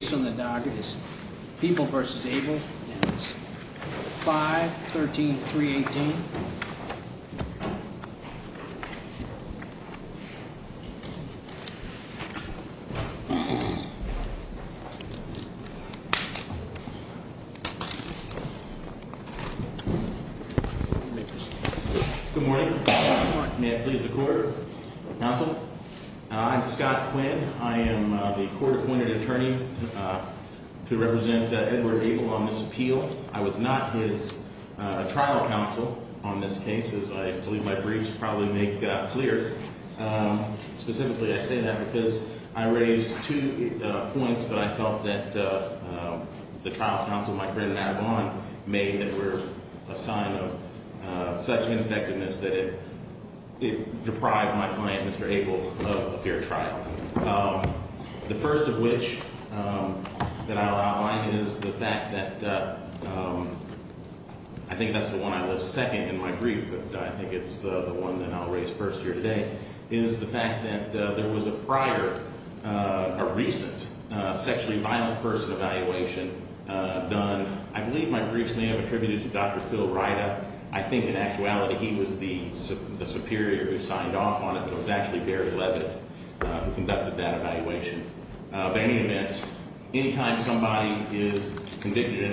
Based on the docket, it's People v. Abel, and it's 5-13-318. Good morning. May I please the court? Counsel? I'm Scott Quinn. I am the court-appointed attorney to represent Edward Abel on this appeal. I was not his trial counsel on this case, as I believe my briefs probably make clear. Specifically, I say that because I raised two points that I felt that the trial counsel, my friend Matt Vaughn, made that were a sign of such ineffectiveness that it deprived my client, Mr. Abel, of a fair trial. The first of which that I'll outline is the fact that I think that's the one I was second in my brief, but I think it's the one that I'll raise first here today, is the fact that there was a prior, a recent sexually violent person evaluation done. I believe my briefs may have attributed to Dr. Phil Ryda. I think in actuality he was the superior who signed off on it, but it was actually Barry Leavitt who conducted that evaluation. But in any event, any time somebody is convicted in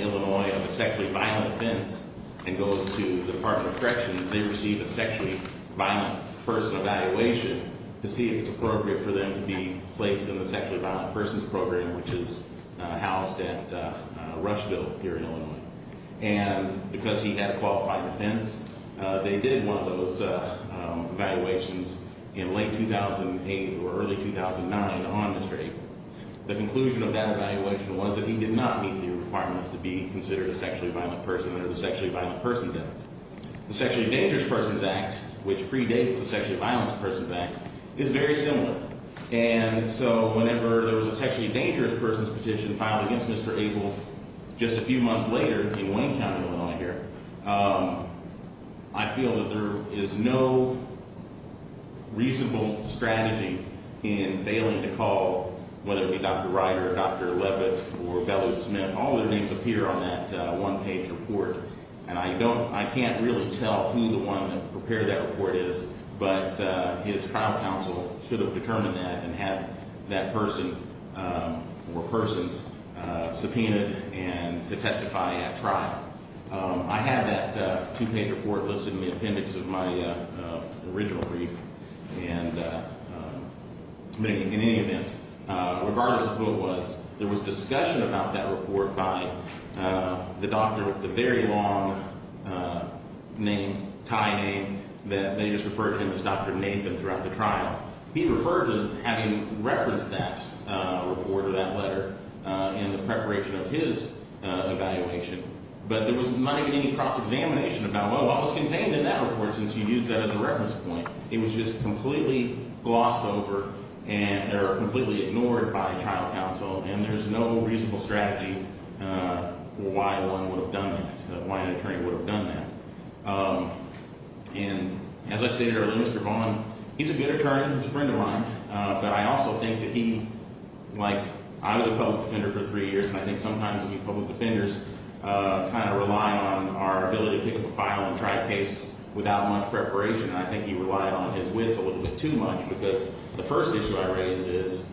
Illinois of a sexually violent offense and goes to the Department of Corrections, they receive a sexually violent person evaluation to see if it's appropriate for them to be placed in the sexually violent persons program, which is housed at Rushville here in Illinois. And because he had a qualified offense, they did one of those evaluations in late 2008 or early 2009 on Mr. Abel. The conclusion of that evaluation was that he did not meet the requirements to be considered a sexually violent person under the Sexually Violent Persons Act. The Sexually Dangerous Persons Act, which predates the Sexually Violent Persons Act, is very similar. And so whenever there was a sexually dangerous person's petition filed against Mr. Abel just a few months later in Wayne County, Illinois here, I feel that there is no reasonable strategy in failing to call, whether it be Dr. Ryda or Dr. Leavitt or Bellows-Smith. All their names appear on that one-page report. And I can't really tell who the one that prepared that report is, but his trial counsel should have determined that and had that person or persons subpoenaed to testify at trial. I have that two-page report listed in the appendix of my original brief. And in any event, regardless of who it was, there was discussion about that report by the doctor with the very long name, tie name that they just referred to him as Dr. Nathan throughout the trial. He referred to having referenced that report or that letter in the preparation of his evaluation. But there was not even any cross-examination about, well, what was contained in that report since you used that as a reference point? It was just completely glossed over or completely ignored by trial counsel. And there's no reasonable strategy for why one would have done that, why an attorney would have done that. And as I stated earlier, Mr. Vaughn, he's a good attorney. He's a friend of mine. But I also think that he, like I was a public defender for three years, and I think sometimes we public defenders kind of rely on our ability to pick up a file and try a case without much preparation. And I think he relied on his wits a little bit too much because the first issue I raise is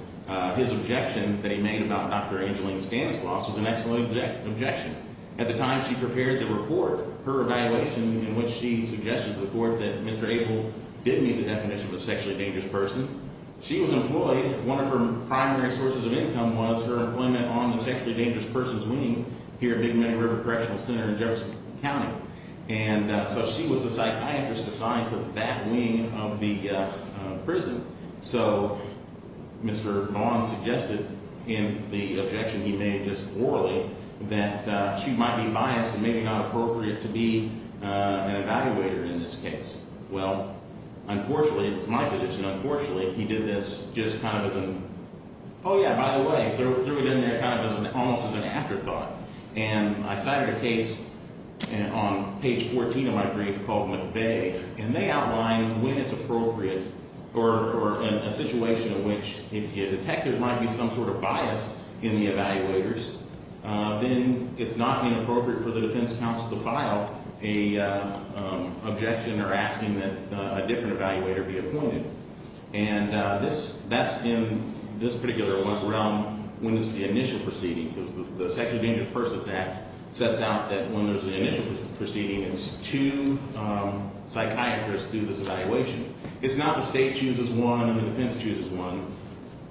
his objection that he made about Dr. Angeline Stanislaus was an excellent objection. At the time she prepared the report, her evaluation in which she suggested to the court that Mr. Abel didn't meet the definition of a sexually dangerous person. She was employed. One of her primary sources of income was her employment on the sexually dangerous person's wing here at Big Meadow River Correctional Center in Jefferson County. And so she was the psychiatrist assigned to that wing of the prison. So Mr. Vaughn suggested in the objection he made just orally that she might be biased and maybe not appropriate to be an evaluator in this case. Well, unfortunately, it's my position, unfortunately, he did this just kind of as an, oh, yeah, by the way, threw it in there kind of as an, almost as an afterthought. And I cited a case on page 14 of my brief called McVeigh. And they outlined when it's appropriate or in a situation in which if your detective might be some sort of bias in the evaluators, then it's not inappropriate for the defense counsel to file an objection or asking that a different evaluator be appointed. And that's in this particular realm when it's the initial proceeding. Because the Sexually Dangerous Persons Act sets out that when there's an initial proceeding, it's two psychiatrists do this evaluation. It's not the state chooses one and the defense chooses one.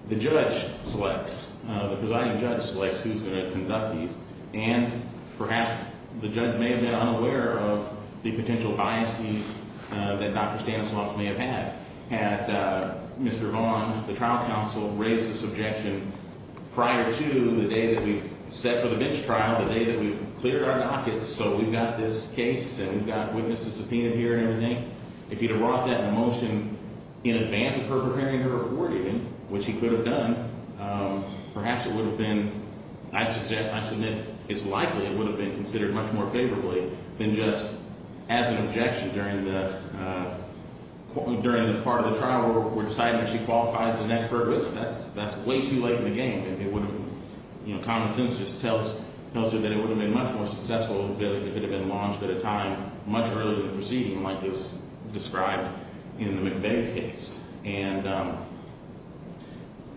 The judge selects, the presiding judge selects who's going to conduct these. And perhaps the judge may have been unaware of the potential biases that Dr. Stanislaus may have had. Had Mr. Vaughn, the trial counsel, raised this objection prior to the day that we set for the bench trial, the day that we cleared our dockets. So we've got this case and we've got witnesses subpoenaed here and everything. If he'd have brought that in motion in advance of her preparing her award even, which he could have done, perhaps it would have been, I submit, it's likely it would have been considered much more favorably than just as an objection during the part of the trial where we're deciding if she qualifies as an expert witness. That's way too late in the game. Common sense just tells you that it would have been much more successful if it had been launched at a time much earlier in the proceeding like it's described in the McVeigh case. And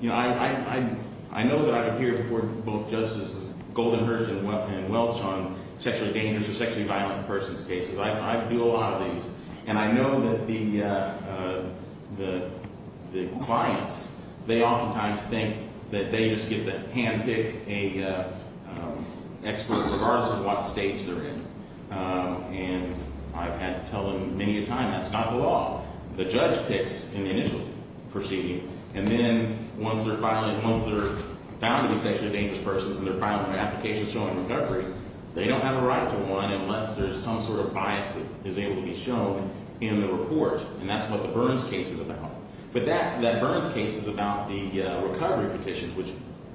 I know that I've appeared before both Justices Goldenhurst and Welch on sexually dangerous or sexually violent persons' cases. I do a lot of these. And I know that the clients, they oftentimes think that they just get to handpick an expert regardless of what stage they're in. And I've had to tell them many a time, that's not the law. The judge picks in the initial proceeding. And then once they're found to be sexually dangerous persons and they're filing an application showing recovery, they don't have a right to one unless there's some sort of bias that is able to be shown in the report. And that's what the Burns case is about. But that Burns case is about the recovery petitions, which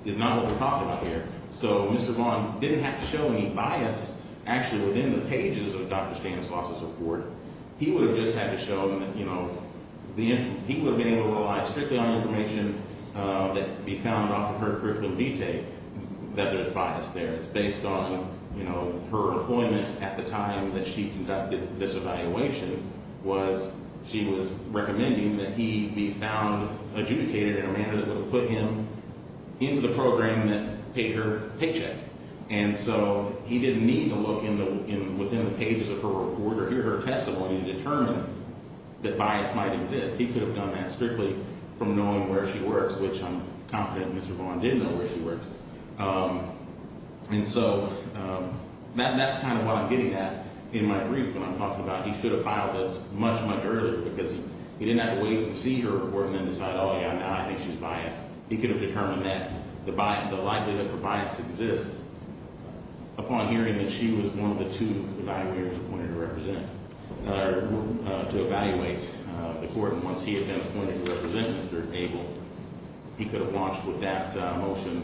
is not what we're talking about here. So Mr. Vaughn didn't have to show any bias actually within the pages of Dr. Stanislaus's report. He would have just had to show them that, you know, he would have been able to rely strictly on information that can be found off of her curriculum V-take that there's bias there. It's based on, you know, her appointment at the time that she conducted this evaluation was she was recommending that he be found adjudicated in a manner that would have put him into the program that paid her paycheck. And so he didn't need to look within the pages of her report or hear her testimony to determine that bias might exist. He could have done that strictly from knowing where she works, which I'm confident Mr. Vaughn did know where she works. And so that's kind of what I'm getting at in my brief when I'm talking about he should have filed this much, much earlier because he didn't have to wait and see her report and then decide, oh, yeah, now I think she's biased. He could have determined that the likelihood for bias exists upon hearing that she was one of the two evaluators appointed to represent or to evaluate the court. And once he had been appointed to represent Mr. Abel, he could have launched with that motion,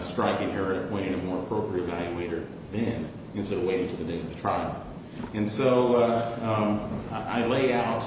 striking her and appointing a more appropriate evaluator then instead of waiting to the date of the trial. And so I lay out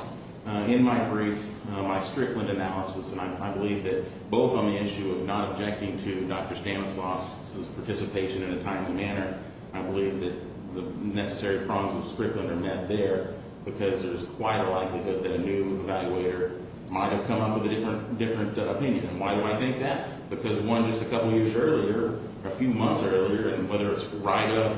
in my brief my Strickland analysis, and I believe that both on the issue of not objecting to Dr. Stanislaus' participation in a timely manner, I believe that the necessary problems of Strickland are met there because there's quite a likelihood that a new evaluator might have come up with a different opinion. And why do I think that? Because, one, just a couple years earlier, a few months earlier, whether it's Rida,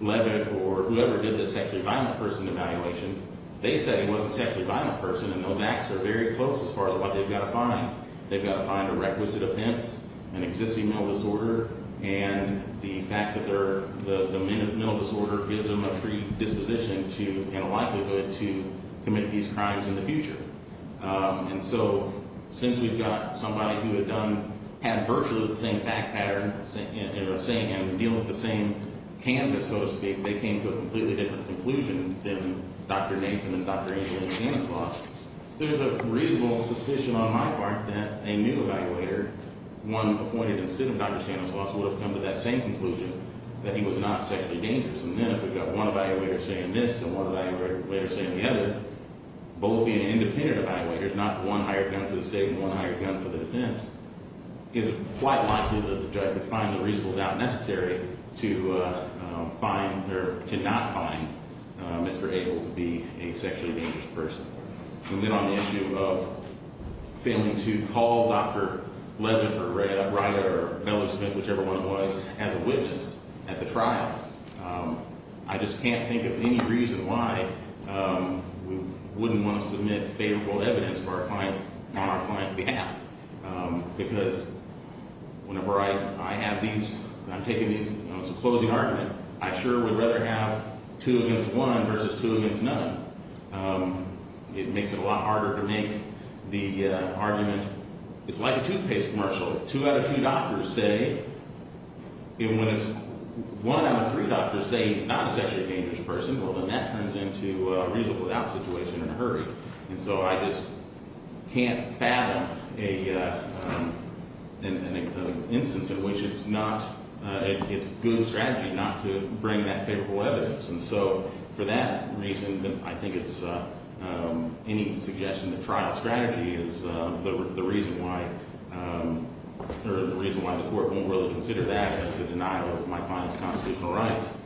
Levitt, or whoever did the sexually violent person evaluation, they said it wasn't a sexually violent person, and those acts are very close as far as what they've got to find. They've got to find a requisite offense, an existing mental disorder, and the fact that the mental disorder gives them a predisposition to and a likelihood to commit these crimes in the future. And so since we've got somebody who had done – had virtually the same fact pattern in the same – in dealing with the same canvas, so to speak, they came to a completely different conclusion than Dr. Nathan and Dr. Angela Stanislaus. There's a reasonable suspicion on my part that a new evaluator, one appointed instead of Dr. Stanislaus, would have come to that same conclusion that he was not sexually dangerous. And then if we've got one evaluator saying this and one evaluator saying the other, both being independent evaluators, not one hired gun for the state and one hired gun for the defense, it's quite likely that the judge would find the reasonable doubt necessary to find – or to not find Mr. Abel to be a sexually dangerous person. And then on the issue of failing to call Dr. Levin or Ryder or Mellie Smith, whichever one it was, as a witness at the trial, I just can't think of any reason why we wouldn't want to submit favorable evidence on our client's behalf. Because whenever I have these – I'm taking these – you know, it's a closing argument. I sure would rather have two against one versus two against none. It makes it a lot harder to make the argument – it's like a toothpaste commercial. So two out of two doctors say – and when it's one out of three doctors say he's not a sexually dangerous person, well, then that turns into a reasonable doubt situation in a hurry. And so I just can't fathom an instance in which it's not – it's good strategy not to bring that favorable evidence. And so for that reason, I think it's – any suggestion that trial strategy is the reason why – or the reason why the Court won't really consider that as a denial of my client's constitutional rights.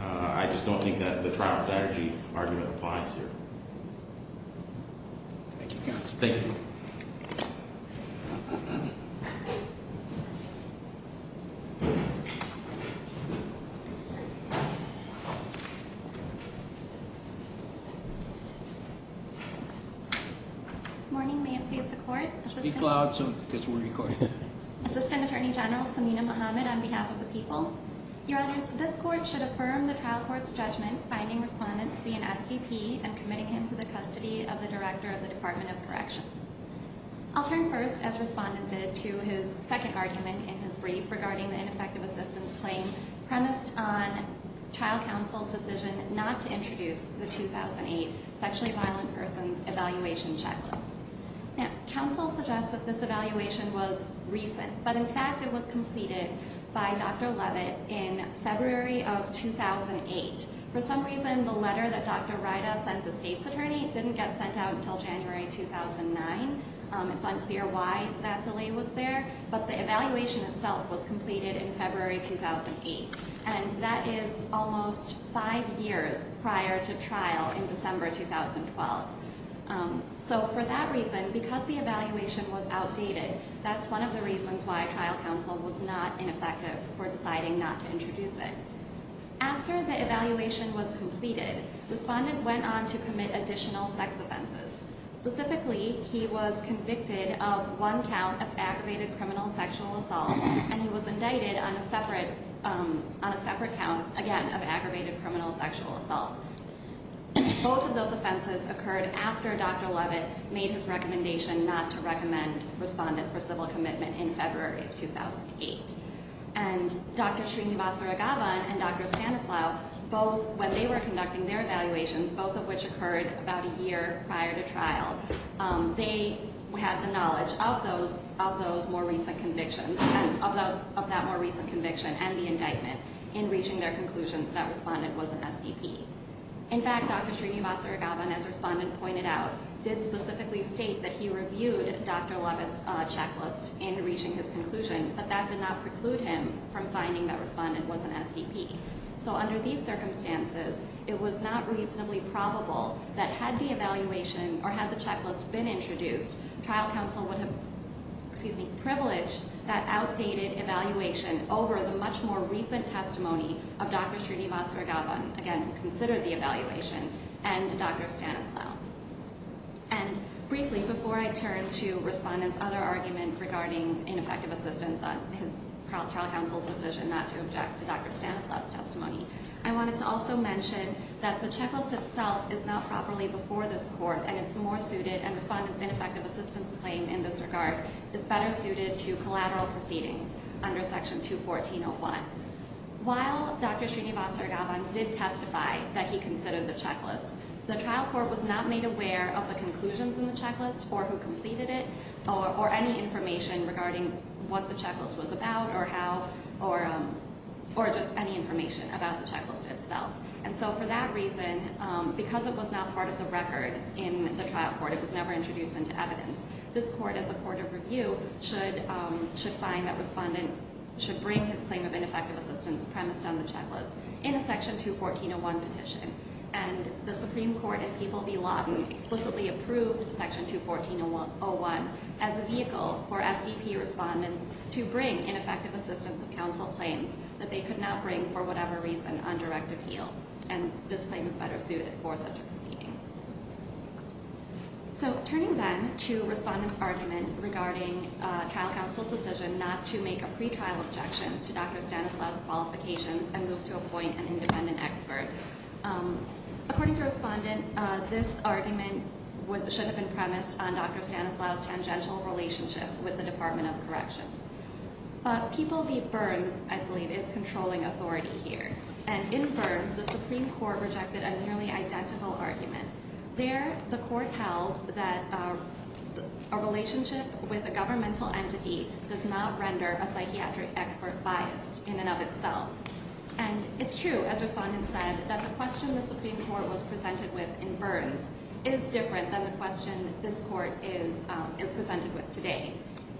I just don't think that the trial strategy argument applies here. Thank you, counsel. Thank you. Good morning. May it please the Court? Speak loud so it gets recorded. Assistant Attorney General Samina Mohammed, on behalf of the people. Your Honors, this Court should affirm the trial court's judgment finding Respondent to be an SDP and committing him to the custody of the Director of the Department of Corrections. I'll turn first, as Respondent did, to his second argument in his brief regarding the ineffective assistance claim premised on trial counsel's decision not to introduce the 2008 sexually violent person evaluation checklist. Now, counsel suggests that this evaluation was recent, but in fact it was completed by Dr. Levitt in February of 2008. For some reason, the letter that Dr. Ryda sent the State's attorney didn't get sent out until January 2009. It's unclear why that delay was there, but the evaluation itself was completed in February 2008. And that is almost five years prior to trial in December 2012. So for that reason, because the evaluation was outdated, that's one of the reasons why trial counsel was not ineffective for deciding not to introduce it. After the evaluation was completed, Respondent went on to commit additional sex offenses. Specifically, he was convicted of one count of aggravated criminal sexual assault, and he was indicted on a separate count, again, of aggravated criminal sexual assault. Both of those offenses occurred after Dr. Levitt made his recommendation not to recommend Respondent for civil commitment in February of 2008. And Dr. Srinivasa Raghavan and Dr. Stanislav, both, when they were conducting their evaluations, both of which occurred about a year prior to trial, they had the knowledge of that more recent conviction and the indictment in reaching their conclusions that Respondent was an SDP. In fact, Dr. Srinivasa Raghavan, as Respondent pointed out, did specifically state that he reviewed Dr. Levitt's checklist in reaching his conclusion, but that did not preclude him from finding that Respondent was an SDP. So under these circumstances, it was not reasonably probable that had the evaluation or had the checklist been introduced, trial counsel would have privileged that outdated evaluation over the much more recent testimony of Dr. Srinivasa Raghavan, again, who considered the evaluation, and Dr. Stanislav. And briefly, before I turn to Respondent's other argument regarding ineffective assistance on trial counsel's decision not to object to Dr. Stanislav's testimony, I wanted to also mention that the checklist itself is not properly before this Court, and it's more suited, and Respondent's ineffective assistance claim in this regard is better suited to collateral proceedings under Section 214.01. While Dr. Srinivasa Raghavan did testify that he considered the checklist, the trial court was not made aware of the conclusions in the checklist, or who completed it, or any information regarding what the checklist was about or how, or just any information about the checklist itself. And so for that reason, because it was not part of the record in the trial court, it was never introduced into evidence, this Court, as a court of review, should find that Respondent should bring his claim of ineffective assistance premised on the checklist in a Section 214.01 petition. And the Supreme Court in People v. Lawton explicitly approved Section 214.01 as a vehicle for SDP Respondents to bring ineffective assistance of counsel claims that they could not bring for whatever reason on direct appeal. And this claim is better suited for such a proceeding. So turning then to Respondent's argument regarding trial counsel's decision not to make a pretrial objection to Dr. Stanislaus' qualifications and move to appoint an independent expert. According to Respondent, this argument should have been premised on Dr. Stanislaus' tangential relationship with the Department of Corrections. But People v. Burns, I believe, is controlling authority here. And in Burns, the Supreme Court rejected a nearly identical argument. There, the Court held that a relationship with a governmental entity does not render a psychiatric expert biased in and of itself. And it's true, as Respondent said, that the question the Supreme Court was presented with in Burns is different than the question this Court is presented with today.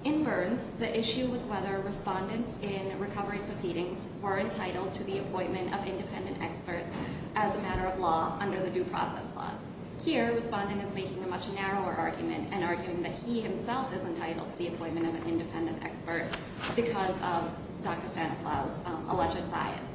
In Burns, the issue was whether Respondents in recovery proceedings were entitled to the appointment of independent experts as a matter of law under the Due Process Clause. Here, Respondent is making a much narrower argument and arguing that he himself is entitled to the appointment of an independent expert because of Dr. Stanislaus' alleged bias.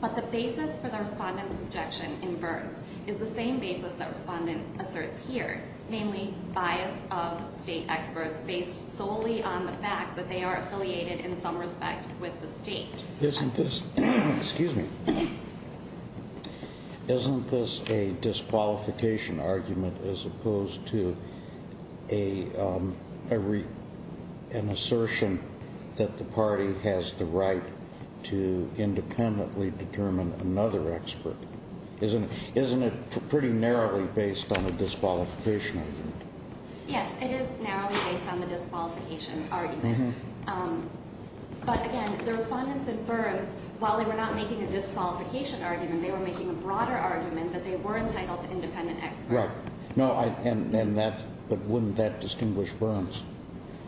But the basis for the Respondent's objection in Burns is the same basis that Respondent asserts here, namely bias of state experts based solely on the fact that they are affiliated in some respect with the state. Isn't this a disqualification argument as opposed to an assertion that the party has the right to independently determine another expert? Isn't it pretty narrowly based on a disqualification argument? Yes, it is narrowly based on the disqualification argument. But again, the Respondents in Burns, while they were not making a disqualification argument, they were making a broader argument that they were entitled to independent experts. Right. But wouldn't that distinguish Burns?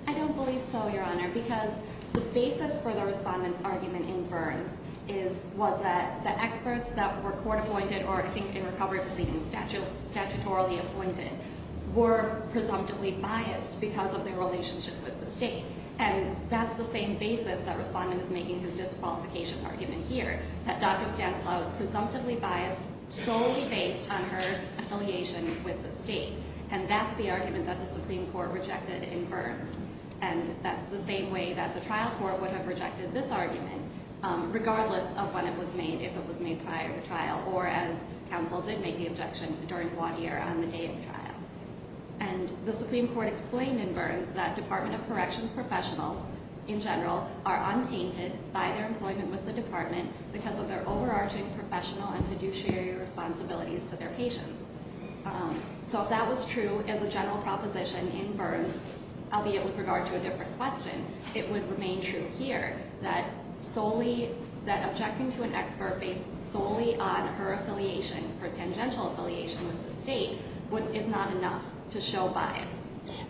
I don't believe so, Your Honor, because the basis for the Respondent's argument in Burns was that the experts that were court appointed or, I think, in recovery proceedings, statutorily appointed, were presumptively biased because of their relationship with the state. And that's the same basis that Respondent is making his disqualification argument here, that Dr. Stanislaus presumptively biased solely based on her affiliation with the state. And that's the argument that the Supreme Court rejected in Burns. And that's the same way that the trial court would have rejected this argument, regardless of when it was made, if it was made prior to trial, or as counsel did make the objection during one year on the day of trial. And the Supreme Court explained in Burns that Department of Corrections professionals, in general, are untainted by their employment with the department because of their overarching professional and fiduciary responsibilities to their patients. So if that was true as a general proposition in Burns, albeit with regard to a different question, it would remain true here, that objecting to an expert based solely on her affiliation, her tangential affiliation with the state, is not enough to show bias.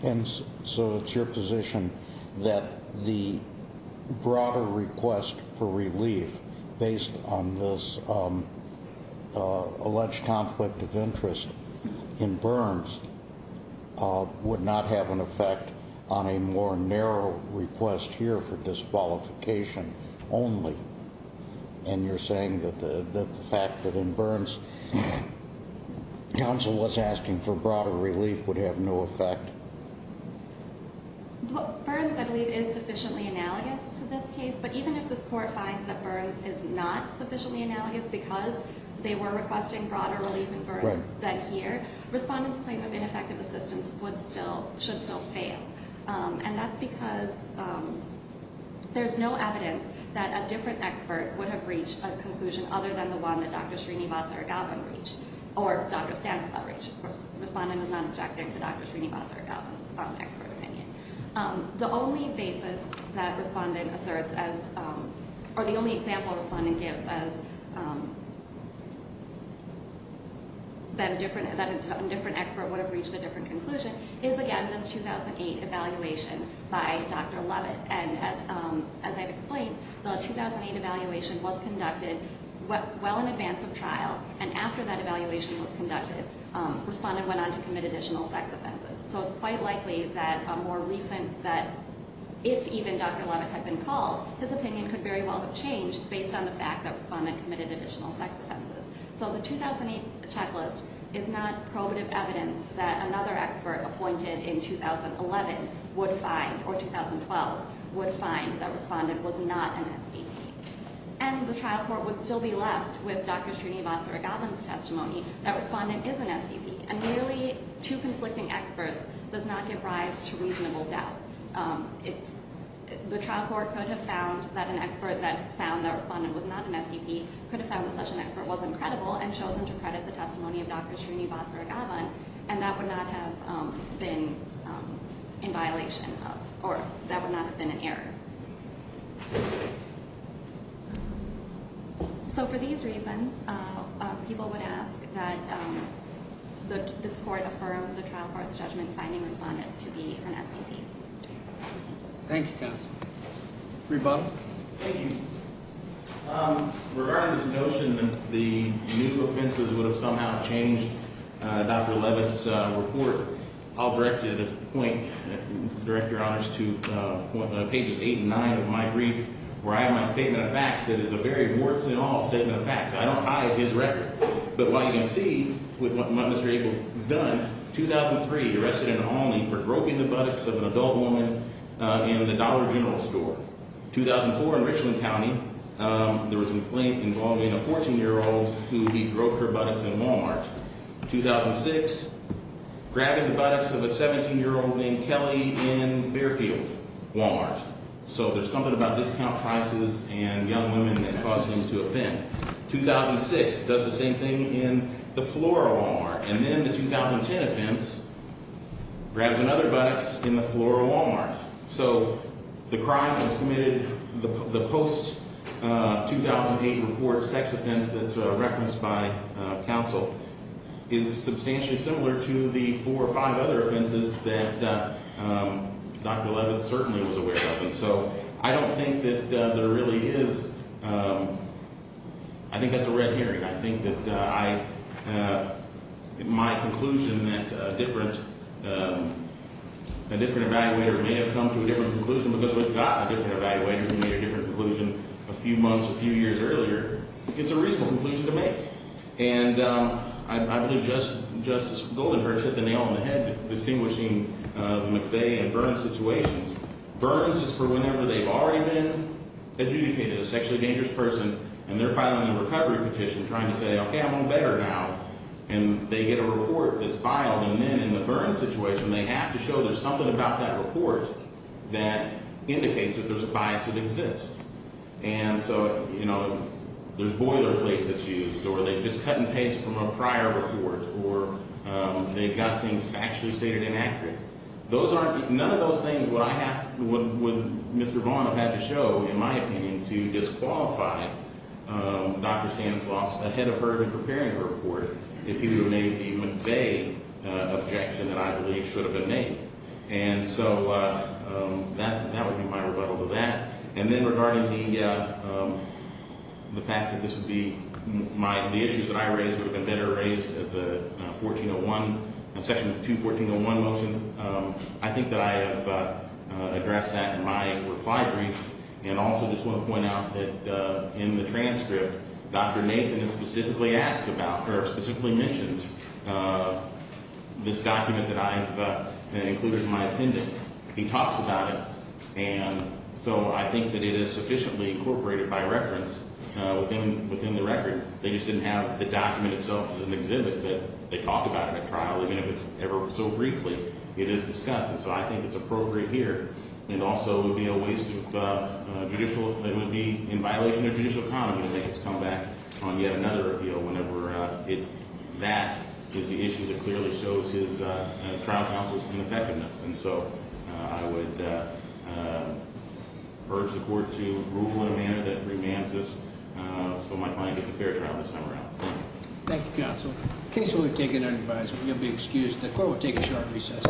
And so it's your position that the broader request for relief, based on this alleged conflict of interest in Burns, would not have an effect on a more narrow request here for disqualification only? And you're saying that the fact that in Burns, counsel was asking for broader relief would have no effect? Burns, I believe, is sufficiently analogous to this case. But even if this court finds that Burns is not sufficiently analogous because they were requesting broader relief in Burns than here, Respondent's claim of ineffective assistance should still fail. And that's because there's no evidence that a different expert would have reached a conclusion other than the one that Dr. Srinivasa Raghavan reached, or Dr. Stanislav reached. Respondent was not objecting to Dr. Srinivasa Raghavan's expert opinion. The only basis that Respondent asserts, or the only example Respondent gives, that a different expert would have reached a different conclusion is, again, this 2008 evaluation by Dr. Levitt. And as I've explained, the 2008 evaluation was conducted well in advance of trial. And after that evaluation was conducted, Respondent went on to commit additional sex offenses. So it's quite likely that a more recent, that if even Dr. Levitt had been called, his opinion could very well have changed based on the fact that Respondent committed additional sex offenses. So the 2008 checklist is not probative evidence that another expert appointed in 2011 would find, or 2012, would find that Respondent was not an SDP. And the trial court would still be left with Dr. Srinivasa Raghavan's testimony that Respondent is an SDP. And merely two conflicting experts does not give rise to reasonable doubt. It's, the trial court could have found that an expert that found that Respondent was not an SDP could have found that such an expert wasn't credible and chosen to credit the testimony of Dr. Srinivasa Raghavan. And that would not have been in violation of, or that would not have been an error. So for these reasons, people would ask that this court affirm the trial court's judgment finding Respondent to be an SDP. Thank you, counsel. Reba? Thank you. Regarding this notion that the new offenses would have somehow changed Dr. Leavitt's report, I'll direct it at this point, Director Honors, to pages 8 and 9 of my brief, where I have my statement of facts that is a very warts and all statement of facts. I don't hide his record. But while you can see with what Mr. Abel has done, 2003, arrested in Olney for groping the buttocks of an adult woman in the Dollar General store. 2004, in Richland County, there was a complaint involving a 14-year-old who he groped her buttocks in Walmart. 2006, grabbing the buttocks of a 17-year-old named Kelly in Fairfield, Walmart. So there's something about discount prices and young women that caused him to offend. 2006, does the same thing in the Flora Walmart. And then the 2010 offense, grabs another buttocks in the Flora Walmart. So the crime that was committed, the post-2008 report sex offense that's referenced by counsel, is substantially similar to the four or five other offenses that Dr. Leavitt certainly was aware of. So I don't think that there really is, I think that's a red herring. I think that my conclusion that a different evaluator may have come to a different conclusion because we've gotten a different evaluator who made a different conclusion a few months, a few years earlier. It's a reasonable conclusion to make. And I believe Justice Goldenberg hit the nail on the head distinguishing McVeigh and Burns situations. Burns is for whenever they've already been adjudicated, a sexually dangerous person, and they're filing a recovery petition trying to say, okay, I'm better now. And they get a report that's filed, and then in the Burns situation, they have to show there's something about that report that indicates that there's a bias that exists. And so, you know, there's boilerplate that's used, or they've just cut and pasted from a prior report, or they've got things actually stated inaccurately. None of those things would Mr. Vaughn have had to show, in my opinion, to disqualify Dr. Stanislaus ahead of her in preparing a report if he would have made the McVeigh objection that I believe should have been made. And so that would be my rebuttal to that. And then regarding the fact that this would be my – the issues that I raised would have been better raised as a 1401 – a section 214.01 motion. I think that I have addressed that in my reply brief. And also just want to point out that in the transcript, Dr. Nathan is specifically asked about – or specifically mentions this document that I've included in my appendix. He talks about it, and so I think that it is sufficiently incorporated by reference within the record. They just didn't have the document itself as an exhibit that they talked about in the trial, even if it's ever so briefly. It is discussed, and so I think it's appropriate here. And also it would be a waste of judicial – it would be in violation of judicial economy to make its comeback on yet another appeal whenever it – that is the issue that clearly shows his trial counsel's ineffectiveness. And so I would urge the court to rule in a manner that remands us so my client gets a fair trial this time around. Thank you, counsel. In case you would have taken an advisement, you'll be excused. The court will take a short recess.